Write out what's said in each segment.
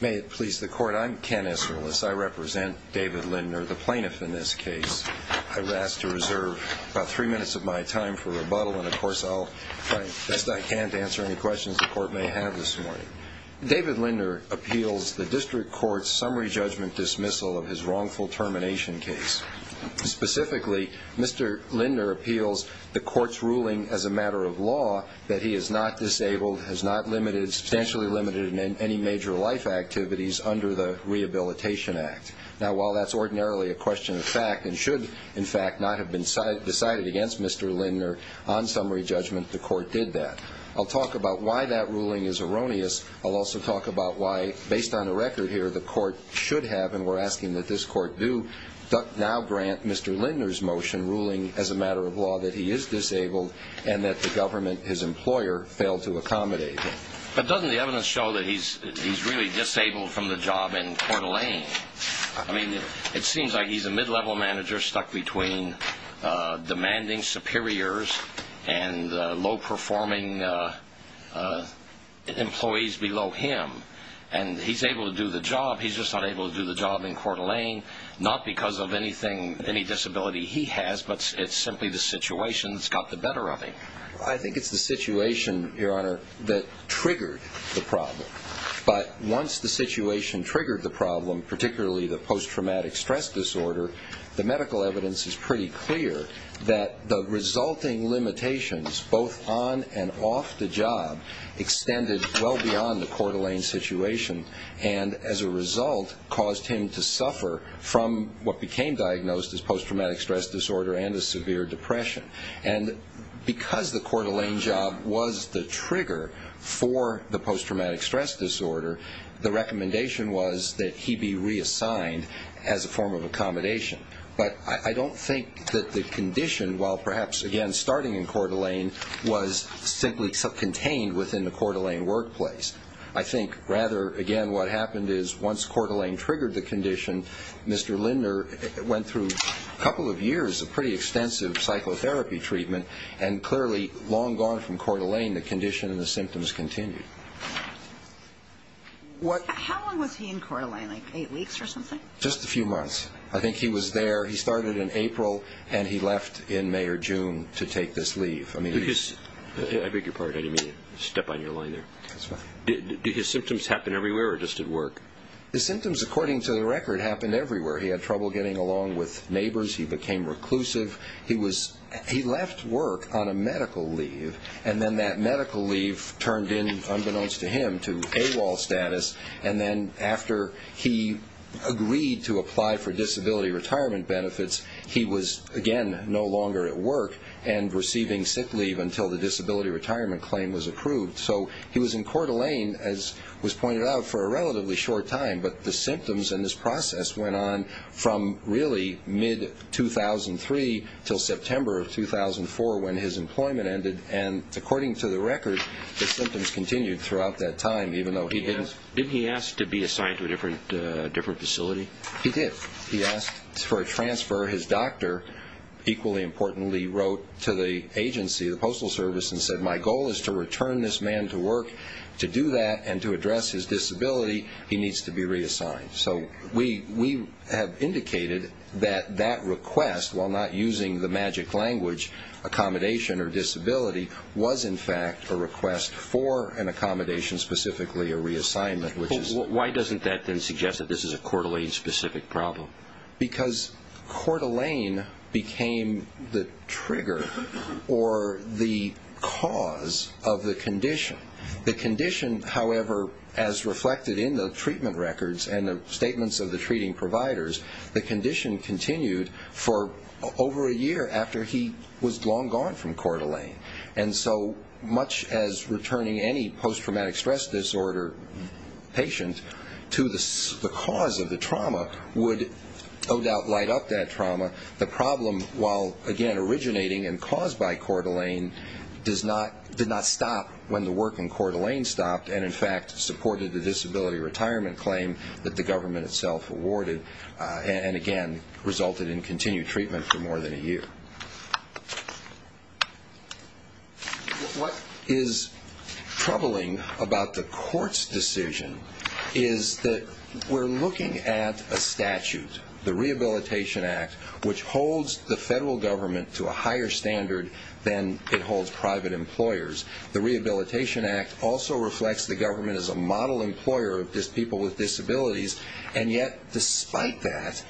May it please the Court, I'm Ken Esserlis. I represent David Linder, the plaintiff in this case. I would ask to reserve about three minutes of my time for rebuttal, and of course I'll try my best I can to answer any questions the Court may have this morning. David Linder appeals the District Court's summary judgment dismissal of his wrongful termination case. Specifically, Mr. Linder appeals the Court's ruling as a matter of law that he is not disabled, has not limited, substantially limited in any major life activities under the Rehabilitation Act. Now while that's ordinarily a question of fact, and should in fact not have been decided against Mr. Linder on summary judgment, the Court did that. I'll talk about why that ruling is erroneous. I'll also talk about why, based on the record here, the Court should have, and we're asking that this Court do, now grant Mr. Linder's motion ruling as a matter of law that he is disabled and that the government, his employer, failed to accommodate him. But doesn't the evidence show that he's really disabled from the job in Coeur d'Alene? I mean, it seems like he's a mid-level manager stuck between demanding superiors and low-performing employees below him. And he's able to do the job, he's just not able to do the job in Coeur d'Alene, not because of anything, any disability he has, but it's simply the situation that's got the better of him. I think it's the situation, Your Honor, that triggered the problem. But once the situation triggered the problem, particularly the post-traumatic stress disorder, the medical evidence is pretty clear that the resulting limitations, both on and off the job, extended well beyond the Coeur d'Alene situation and, as a result, caused him to suffer from what became diagnosed as post-traumatic stress disorder and a severe depression. And because the Coeur d'Alene job was the trigger for the post-traumatic stress disorder, the recommendation was that he be reassigned as a form of accommodation. But I don't think that the condition, while perhaps, again, starting in Coeur d'Alene, was simply contained within the Coeur d'Alene workplace. I think, rather, again, what happened is, once Coeur d'Alene triggered the condition, Mr. Linder went through a couple of years of pretty extensive psychotherapy treatment and, clearly, long gone from Coeur d'Alene, the condition and the symptoms continued. How long was he in Coeur d'Alene, like eight weeks or something? Just a few months. I think he was there, he started in April, and he left in May or June to take this leave. I beg your pardon. I didn't mean to step on your line there. That's fine. Did his symptoms happen everywhere or just at work? His symptoms, according to the record, happened everywhere. He had trouble getting along with neighbors. He became reclusive. He left work on a medical leave and then that medical leave turned in, unbeknownst to him, to AWOL status. And then, after he agreed to apply for disability retirement benefits, he was, again, no longer at work and receiving sick leave until the disability retirement claim was approved. So, he was in Coeur d'Alene, as was pointed out, for a relatively short time, but the symptoms and this process went on from, really, mid-2003 until September of 2004 when his employment ended. And, according to the record, the symptoms continued throughout that time, even though he didn't... Did he ask to be assigned to a different facility? He did. He asked for a transfer. His doctor, equally importantly, wrote to the agency, the Postal Service, and said, My goal is to return this man to work. To do that and to address his disability, he needs to be reassigned. So, we have indicated that that request, while not using the magic language, accommodation or disability, was, in fact, a request for an accommodation, specifically a reassignment. Why doesn't that then suggest that this is a Coeur d'Alene-specific problem? Because Coeur d'Alene became the trigger or the cause of the condition. The condition, however, as reflected in the treatment records and the statements of the treating providers, the condition continued for over a year after he was long gone from Coeur d'Alene. And so, much as returning any post-traumatic stress disorder patient to the cause of the trauma would, no doubt, light up that trauma, the problem, while, again, originating and caused by Coeur d'Alene, did not stop when the work in Coeur d'Alene stopped and, in fact, supported the disability retirement claim that the government itself awarded. And, again, resulted in continued treatment for more than a year. What is troubling about the court's decision is that we're looking at a statute, the Rehabilitation Act, which holds the federal government to a higher standard than it holds private employers. The Rehabilitation Act also reflects the government as a model employer of people with disabilities. And yet, despite that,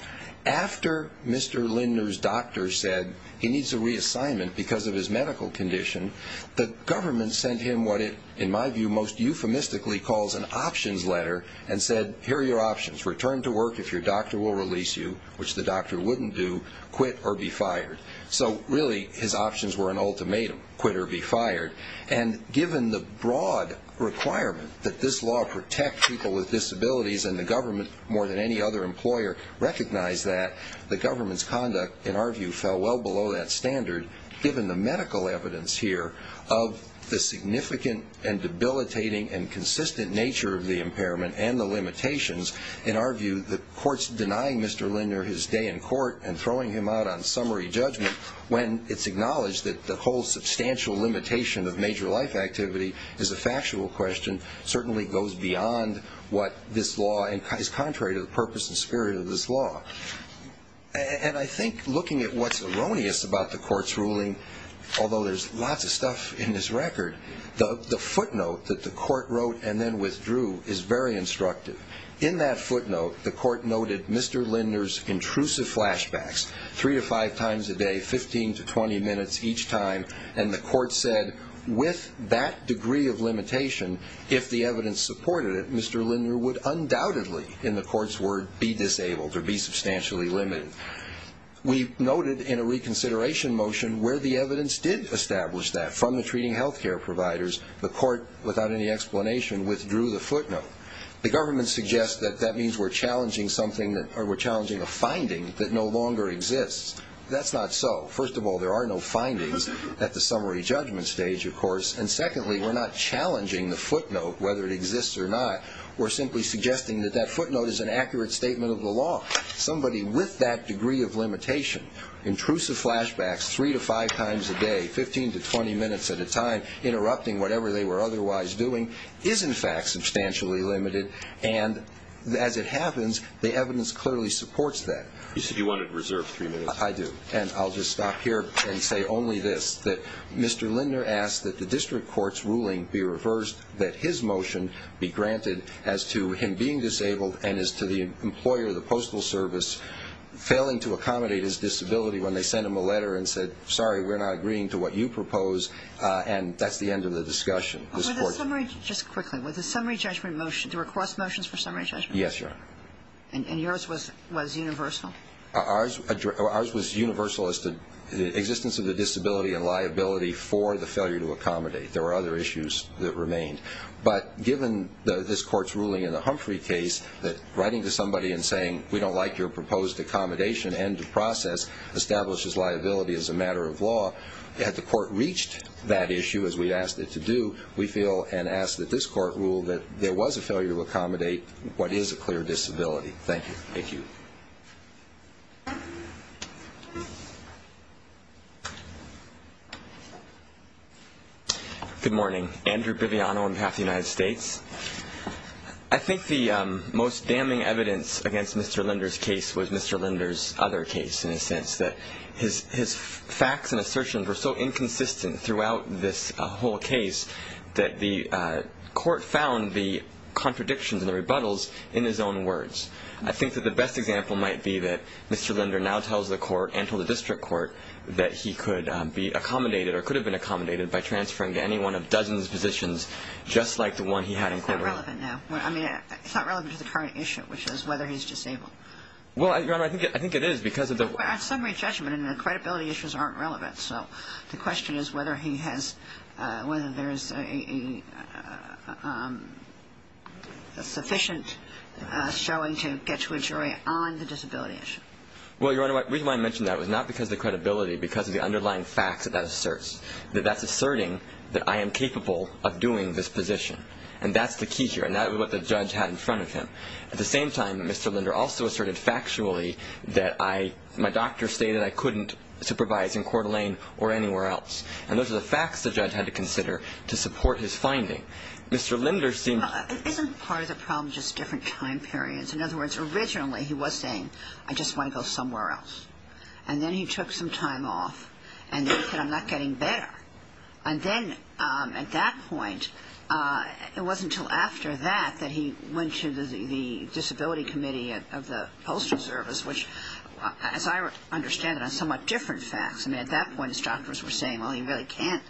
after Mr. Lindner's doctor said he needs a reassignment because of his medical condition, the government sent him what it, in my view, most euphemistically calls an options letter and said, here are your options, return to work if your doctor will release you, which the doctor wouldn't do, quit or be fired. So, really, his options were an ultimatum, quit or be fired. And given the broad requirement that this law protect people with disabilities, and the government, more than any other employer, recognized that, the government's conduct, in our view, fell well below that standard, given the medical evidence here of the significant and debilitating and consistent nature of the impairment and the limitations. In our view, the court's denying Mr. Lindner his day in court and throwing him out on summary judgment, when it's acknowledged that the whole substantial limitation of major life activity is a factual question, certainly goes beyond what this law is contrary to the purpose and spirit of this law. And I think looking at what's erroneous about the court's ruling, although there's lots of stuff in this record, the footnote that the court wrote and then withdrew is very instructive. In that footnote, the court noted Mr. Lindner's intrusive flashbacks, three to five times a day, 15 to 20 minutes each time, and the court said, with that degree of limitation, if the evidence supported it, Mr. Lindner would undoubtedly, in the court's word, be disabled or be substantially limited. We noted in a reconsideration motion where the evidence did establish that, from the treating health care providers, the court, without any explanation, withdrew the footnote. The government suggests that that means we're challenging a finding that no longer exists. That's not so. First of all, there are no findings at the summary judgment stage, of course. And secondly, we're not challenging the footnote, whether it exists or not. We're simply suggesting that that footnote is an accurate statement of the law. Somebody with that degree of limitation, intrusive flashbacks three to five times a day, 15 to 20 minutes at a time, interrupting whatever they were otherwise doing, is, in fact, substantially limited. And as it happens, the evidence clearly supports that. You said you wanted to reserve three minutes. I do. And I'll just stop here and say only this, that Mr. Lindner asked that the district court's ruling be reversed, that his motion be granted as to him being disabled and as to the employer, the Postal Service, failing to accommodate his disability when they sent him a letter and said, sorry, we're not agreeing to what you propose. And that's the end of the discussion. Just quickly, was the summary judgment motion, the request motions for summary judgment? Yes, Your Honor. And yours was universal? Ours was universal as to the existence of the disability and liability for the failure to accommodate. There were other issues that remained. But given this court's ruling in the Humphrey case that writing to somebody and saying, we don't like your proposed accommodation, end of process, establishes liability as a matter of law, had the court reached that issue as we asked it to do, we feel and ask that this court rule that there was a failure to accommodate what is a clear disability. Thank you. Thank you. Thank you. Good morning. Andrew Biviano on behalf of the United States. I think the most damning evidence against Mr. Linder's case was Mr. Linder's other case in a sense, that his facts and assertions were so inconsistent throughout this whole case that the court found the contradictions and the rebuttals in his own words. I think that the best example might be that Mr. Linder now tells the court, and told the district court, that he could be accommodated or could have been accommodated by transferring to any one of Dozen's positions just like the one he had in Colorado. It's not relevant now. I mean, it's not relevant to the current issue, which is whether he's disabled. Well, Your Honor, I think it is because of the... But our summary judgment and the credibility issues aren't relevant. So the question is whether he has, whether there is a sufficient showing to get to a jury on the disability issue. Well, Your Honor, the reason why I mention that was not because of the credibility, because of the underlying facts that that asserts, that that's asserting that I am capable of doing this position. And that's the key here, and that's what the judge had in front of him. At the same time, Mr. Linder also asserted factually that I, my doctor stated I couldn't supervise in Coeur d'Alene or anywhere else. And those are the facts the judge had to consider to support his finding. Mr. Linder seemed... Isn't part of the problem just different time periods? In other words, originally he was saying, I just want to go somewhere else. And then he took some time off, and then he said, I'm not getting better. And then at that point, it wasn't until after that that he went to the Disability Committee of the Postal Service, which, as I understand it, are somewhat different facts. I mean, at that point, his doctors were saying, well, you really can't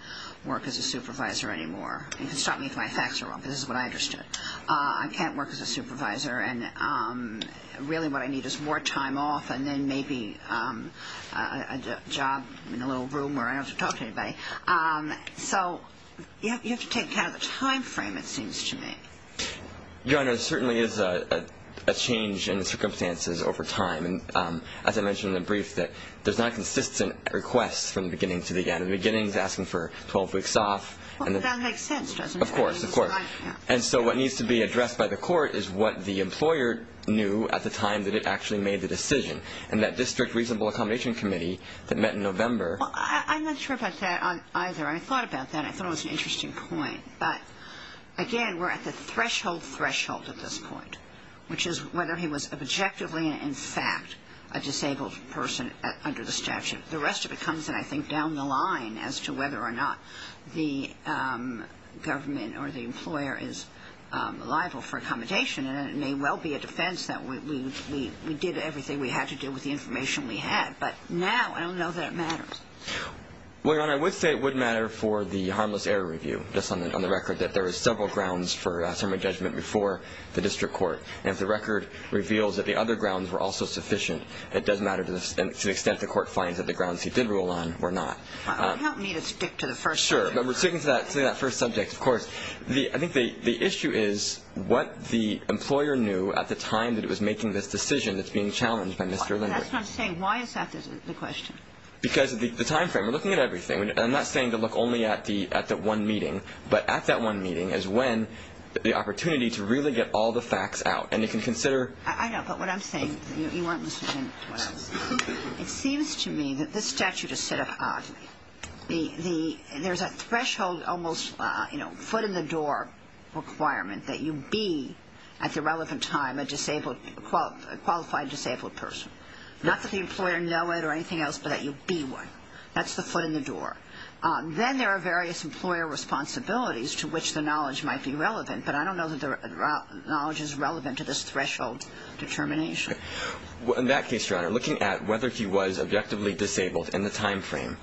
work as a supervisor anymore. You can stop me if my facts are wrong, but this is what I understood. I can't work as a supervisor, and really what I need is more time off and then maybe a job in a little room where I don't have to talk to anybody. So you have to take account of the time frame, it seems to me. Your Honor, there certainly is a change in the circumstances over time. And as I mentioned in the brief, there's not consistent requests from the beginning to the end. The beginning is asking for 12 weeks off. Well, that makes sense, doesn't it? Of course, of course. And so what needs to be addressed by the court is what the employer knew at the time that it actually made the decision. And that District Reasonable Accommodation Committee that met in November... Well, I'm not sure about that either. I thought about that, and I thought it was an interesting point. But, again, we're at the threshold threshold at this point, which is whether he was objectively and in fact a disabled person under the statute. The rest of it comes, I think, down the line as to whether or not the government or the employer is liable for accommodation. And it may well be a defense that we did everything we had to do with the information we had. Well, Your Honor, I would say it would matter for the harmless error review, just on the record, that there was several grounds for summary judgment before the district court. And if the record reveals that the other grounds were also sufficient, it does matter to the extent the court finds that the grounds he did rule on were not. Help me to stick to the first subject. Sure. But we're sticking to that first subject, of course. I think the issue is what the employer knew at the time that it was making this decision that's being challenged by Mr. Lindberg. That's what I'm saying. Why is that the question? Because of the time frame. We're looking at everything. I'm not saying to look only at the one meeting. But at that one meeting is when the opportunity to really get all the facts out. And you can consider... I know. But what I'm saying, you weren't listening to what I was saying. It seems to me that this statute is set up oddly. There's a threshold, almost, you know, foot in the door requirement that you be at the relevant time a qualified disabled person. Not that the employer know it or anything else, but that you be one. That's the foot in the door. Then there are various employer responsibilities to which the knowledge might be relevant. But I don't know that the knowledge is relevant to this threshold determination. In that case, Your Honor, looking at whether he was objectively disabled in the time frame,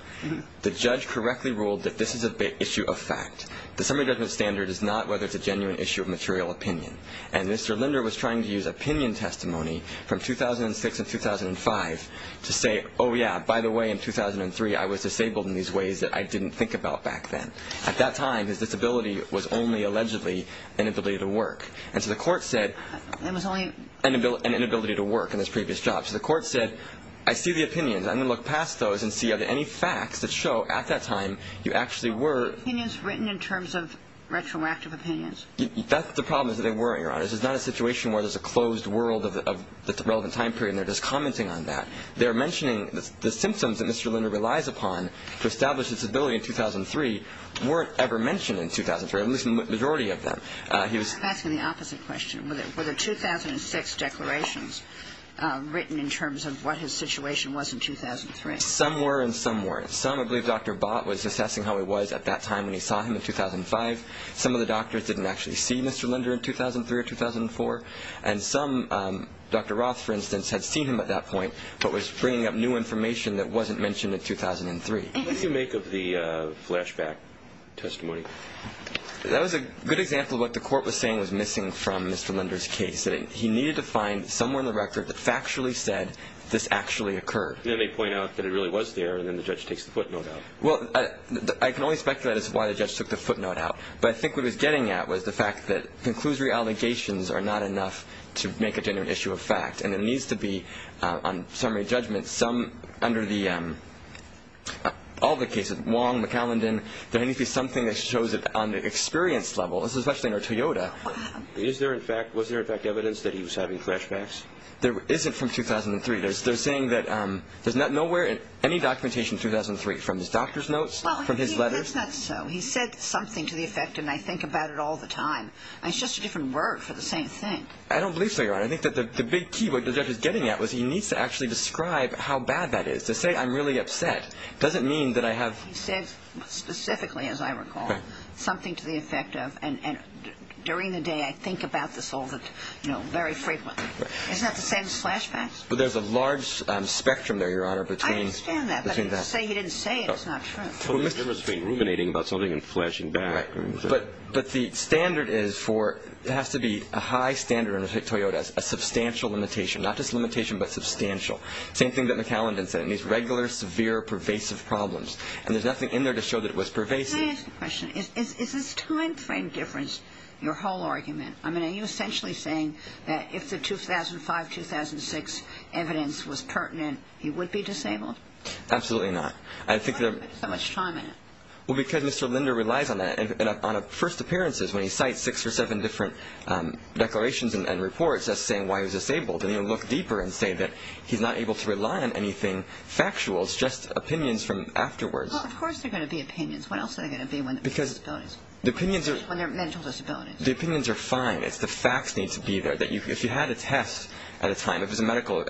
the judge correctly ruled that this is an issue of fact. The summary judgment standard is not whether it's a genuine issue of material opinion. And Mr. Linder was trying to use opinion testimony from 2006 and 2005 to say, oh, yeah, by the way, in 2003 I was disabled in these ways that I didn't think about back then. At that time, his disability was only allegedly an inability to work. And so the court said... It was only... An inability to work in his previous job. So the court said, I see the opinions. I'm going to look past those and see are there any facts that show at that time you actually were... Opinions written in terms of retroactive opinions. That's the problem is that they weren't, Your Honor. This is not a situation where there's a closed world of the relevant time period and they're just commenting on that. They're mentioning the symptoms that Mr. Linder relies upon to establish his disability in 2003 weren't ever mentioned in 2003, at least the majority of them. He was... I'm asking the opposite question. Were there 2006 declarations written in terms of what his situation was in 2003? Some were and some weren't. Some, I believe Dr. Bott was assessing how he was at that time when he saw him in 2005. Some of the doctors didn't actually see Mr. Linder in 2003 or 2004. And some, Dr. Roth, for instance, had seen him at that point but was bringing up new information that wasn't mentioned in 2003. What did you make of the flashback testimony? That was a good example of what the court was saying was missing from Mr. Linder's case. He needed to find somewhere in the record that factually said this actually occurred. And then they point out that it really was there and then the judge takes the footnote out. Well, I can only speculate as to why the judge took the footnote out. But I think what he was getting at was the fact that conclusory allegations are not enough to make a genuine issue of fact. And it needs to be, on summary judgment, under all the cases, Wong, McAllendon, there needs to be something that shows it on the experience level, especially under Toyota. Was there, in fact, evidence that he was having flashbacks? There isn't from 2003. They're saying that there's nowhere in any documentation in 2003 from his doctor's notes, from his letters. Well, that's not so. He said something to the effect, and I think about it all the time. It's just a different word for the same thing. I don't believe so, Your Honor. I think that the big key, what the judge is getting at, is he needs to actually describe how bad that is. To say, I'm really upset, doesn't mean that I have... He said specifically, as I recall, something to the effect of, and during the day I think about this all very frequently. Isn't that the same as flashbacks? Well, there's a large spectrum there, Your Honor, between that. I understand that, but to say he didn't say it is not true. There must have been ruminating about something in flashing back. But the standard is for, it has to be a high standard under Toyota, a substantial limitation. Not just limitation, but substantial. Same thing that McAllendon said. It needs regular, severe, pervasive problems. And there's nothing in there to show that it was pervasive. Can I ask a question? Is this time frame difference your whole argument? I mean, are you essentially saying that if the 2005-2006 evidence was pertinent, he would be disabled? Absolutely not. Why do you spend so much time on it? Well, because Mr. Linder relies on that. On first appearances, when he cites six or seven different declarations and reports, that's saying why he was disabled. And you look deeper and say that he's not able to rely on anything factual. It's just opinions from afterwards. Well, of course there are going to be opinions. What else are there going to be when there are disabilities? Because the opinions are... When there are mental disabilities. The opinions are fine. It's the facts need to be there. If you had a test at a time, if it's a medical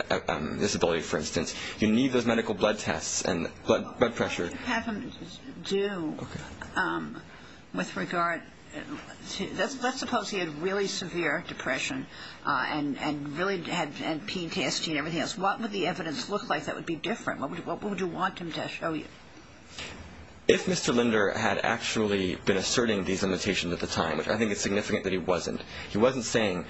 disability, for instance, you need those medical blood tests and blood pressure. Have him do with regard to – let's suppose he had really severe depression and really had – and peed, cast, and everything else. What would the evidence look like that would be different? What would you want him to show you? If Mr. Linder had actually been asserting these limitations at the time, which I think is significant that he wasn't. He wasn't saying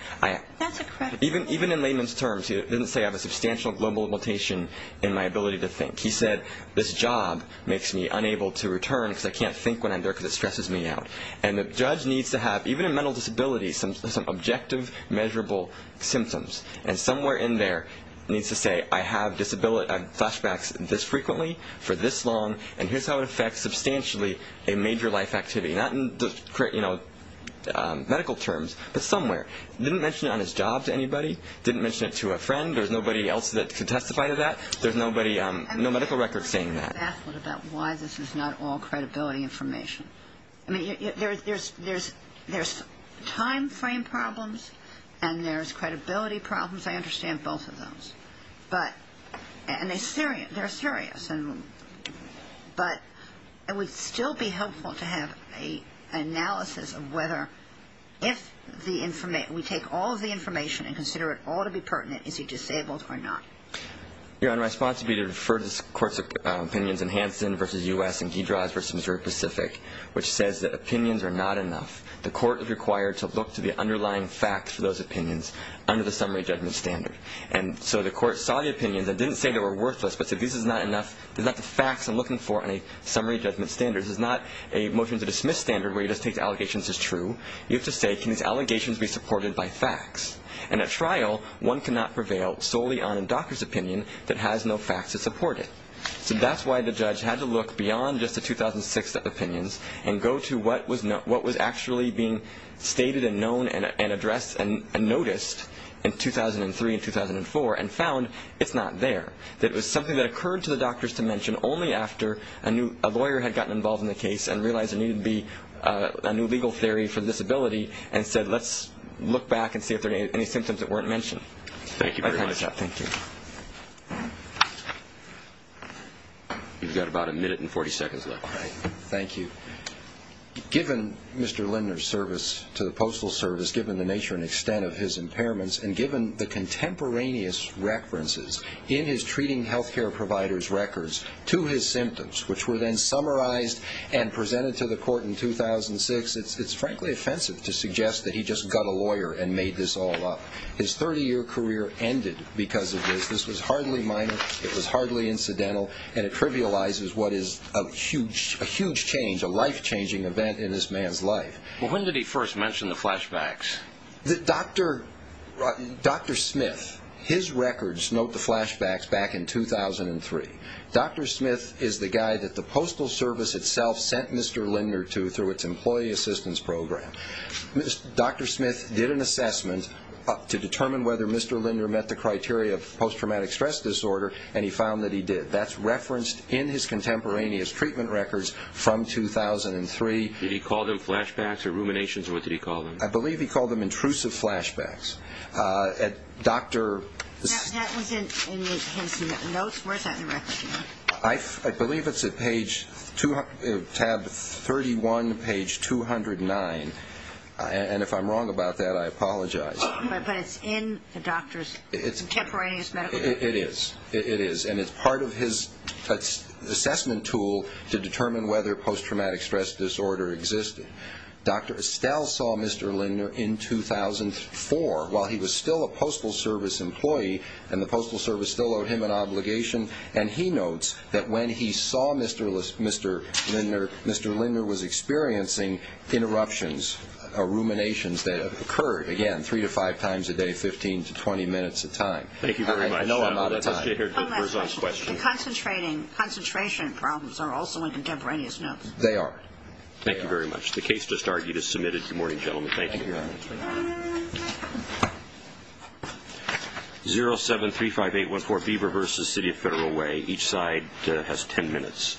– even in layman's terms, he didn't say, I have a substantial global limitation in my ability to think. He said, this job makes me unable to return because I can't think when I'm there because it stresses me out. And the judge needs to have, even in mental disability, some objective, measurable symptoms. And somewhere in there, he needs to say, I have flashbacks this frequently for this long, and here's how it affects substantially a major life activity. Not in medical terms, but somewhere. He didn't mention it on his job to anybody. He didn't mention it to a friend. There's nobody else that can testify to that. There's nobody – no medical record saying that. And maybe you could ask him about why this is not all credibility information. I mean, there's timeframe problems and there's credibility problems. I understand both of those. But – and they're serious. But it would still be helpful to have an analysis of whether, if we take all of the information and consider it ought to be pertinent, is he disabled or not. Your Honor, my response would be to refer to the court's opinions in Hansen versus U.S. and Giedras versus Missouri Pacific, which says that opinions are not enough. The court is required to look to the underlying facts for those opinions under the summary judgment standard. And so the court saw the opinions and didn't say they were worthless, but said this is not enough, these are not the facts I'm looking for in a summary judgment standard. This is not a motion to dismiss standard where you just take the allegations as true. You have to say, can these allegations be supported by facts? And at trial, one cannot prevail solely on a doctor's opinion that has no facts to support it. So that's why the judge had to look beyond just the 2006 opinions and go to what was actually being stated and known and addressed and noticed in 2003 and 2004 and found it's not there, that it was something that occurred to the doctors to mention only after a lawyer had gotten involved in the case and realized there needed to be a new legal theory for the disability and said let's look back and see if there are any symptoms that weren't mentioned. Thank you very much. Thank you. You've got about a minute and 40 seconds left. Thank you. Given Mr. Lindner's service to the Postal Service, given the nature and extent of his impairments, and given the contemporaneous references in his treating health care providers' records to his symptoms, which were then summarized and presented to the court in 2006, it's frankly offensive to suggest that he just got a lawyer and made this all up. His 30-year career ended because of this. This was hardly minor, it was hardly incidental, and it trivializes what is a huge change, a life-changing event in this man's life. When did he first mention the flashbacks? Dr. Smith, his records note the flashbacks back in 2003. Dr. Smith is the guy that the Postal Service itself sent Mr. Lindner to through its employee assistance program. Dr. Smith did an assessment to determine whether Mr. Lindner met the criteria of post-traumatic stress disorder, and he found that he did. That's referenced in his contemporaneous treatment records from 2003. Did he call them flashbacks or ruminations, or what did he call them? I believe he called them intrusive flashbacks. That was in his notes? Where's that in the records? I believe it's at tab 31, page 209, and if I'm wrong about that, I apologize. But it's in the doctor's contemporaneous medical records? It is, and it's part of his assessment tool to determine whether post-traumatic stress disorder existed. Dr. Estelle saw Mr. Lindner in 2004 while he was still a Postal Service employee, and the Postal Service still owed him an obligation, and he notes that when he saw Mr. Lindner, Mr. Lindner was experiencing interruptions or ruminations that occurred, again, three to five times a day, 15 to 20 minutes at a time. Thank you very much. I know I'm out of time. One last question. The concentration problems are also in contemporaneous notes? They are. Thank you very much. The case just argued is submitted. Good morning, gentlemen. Thank you. 0735814B reverses City of Federal Way. Each side has ten minutes.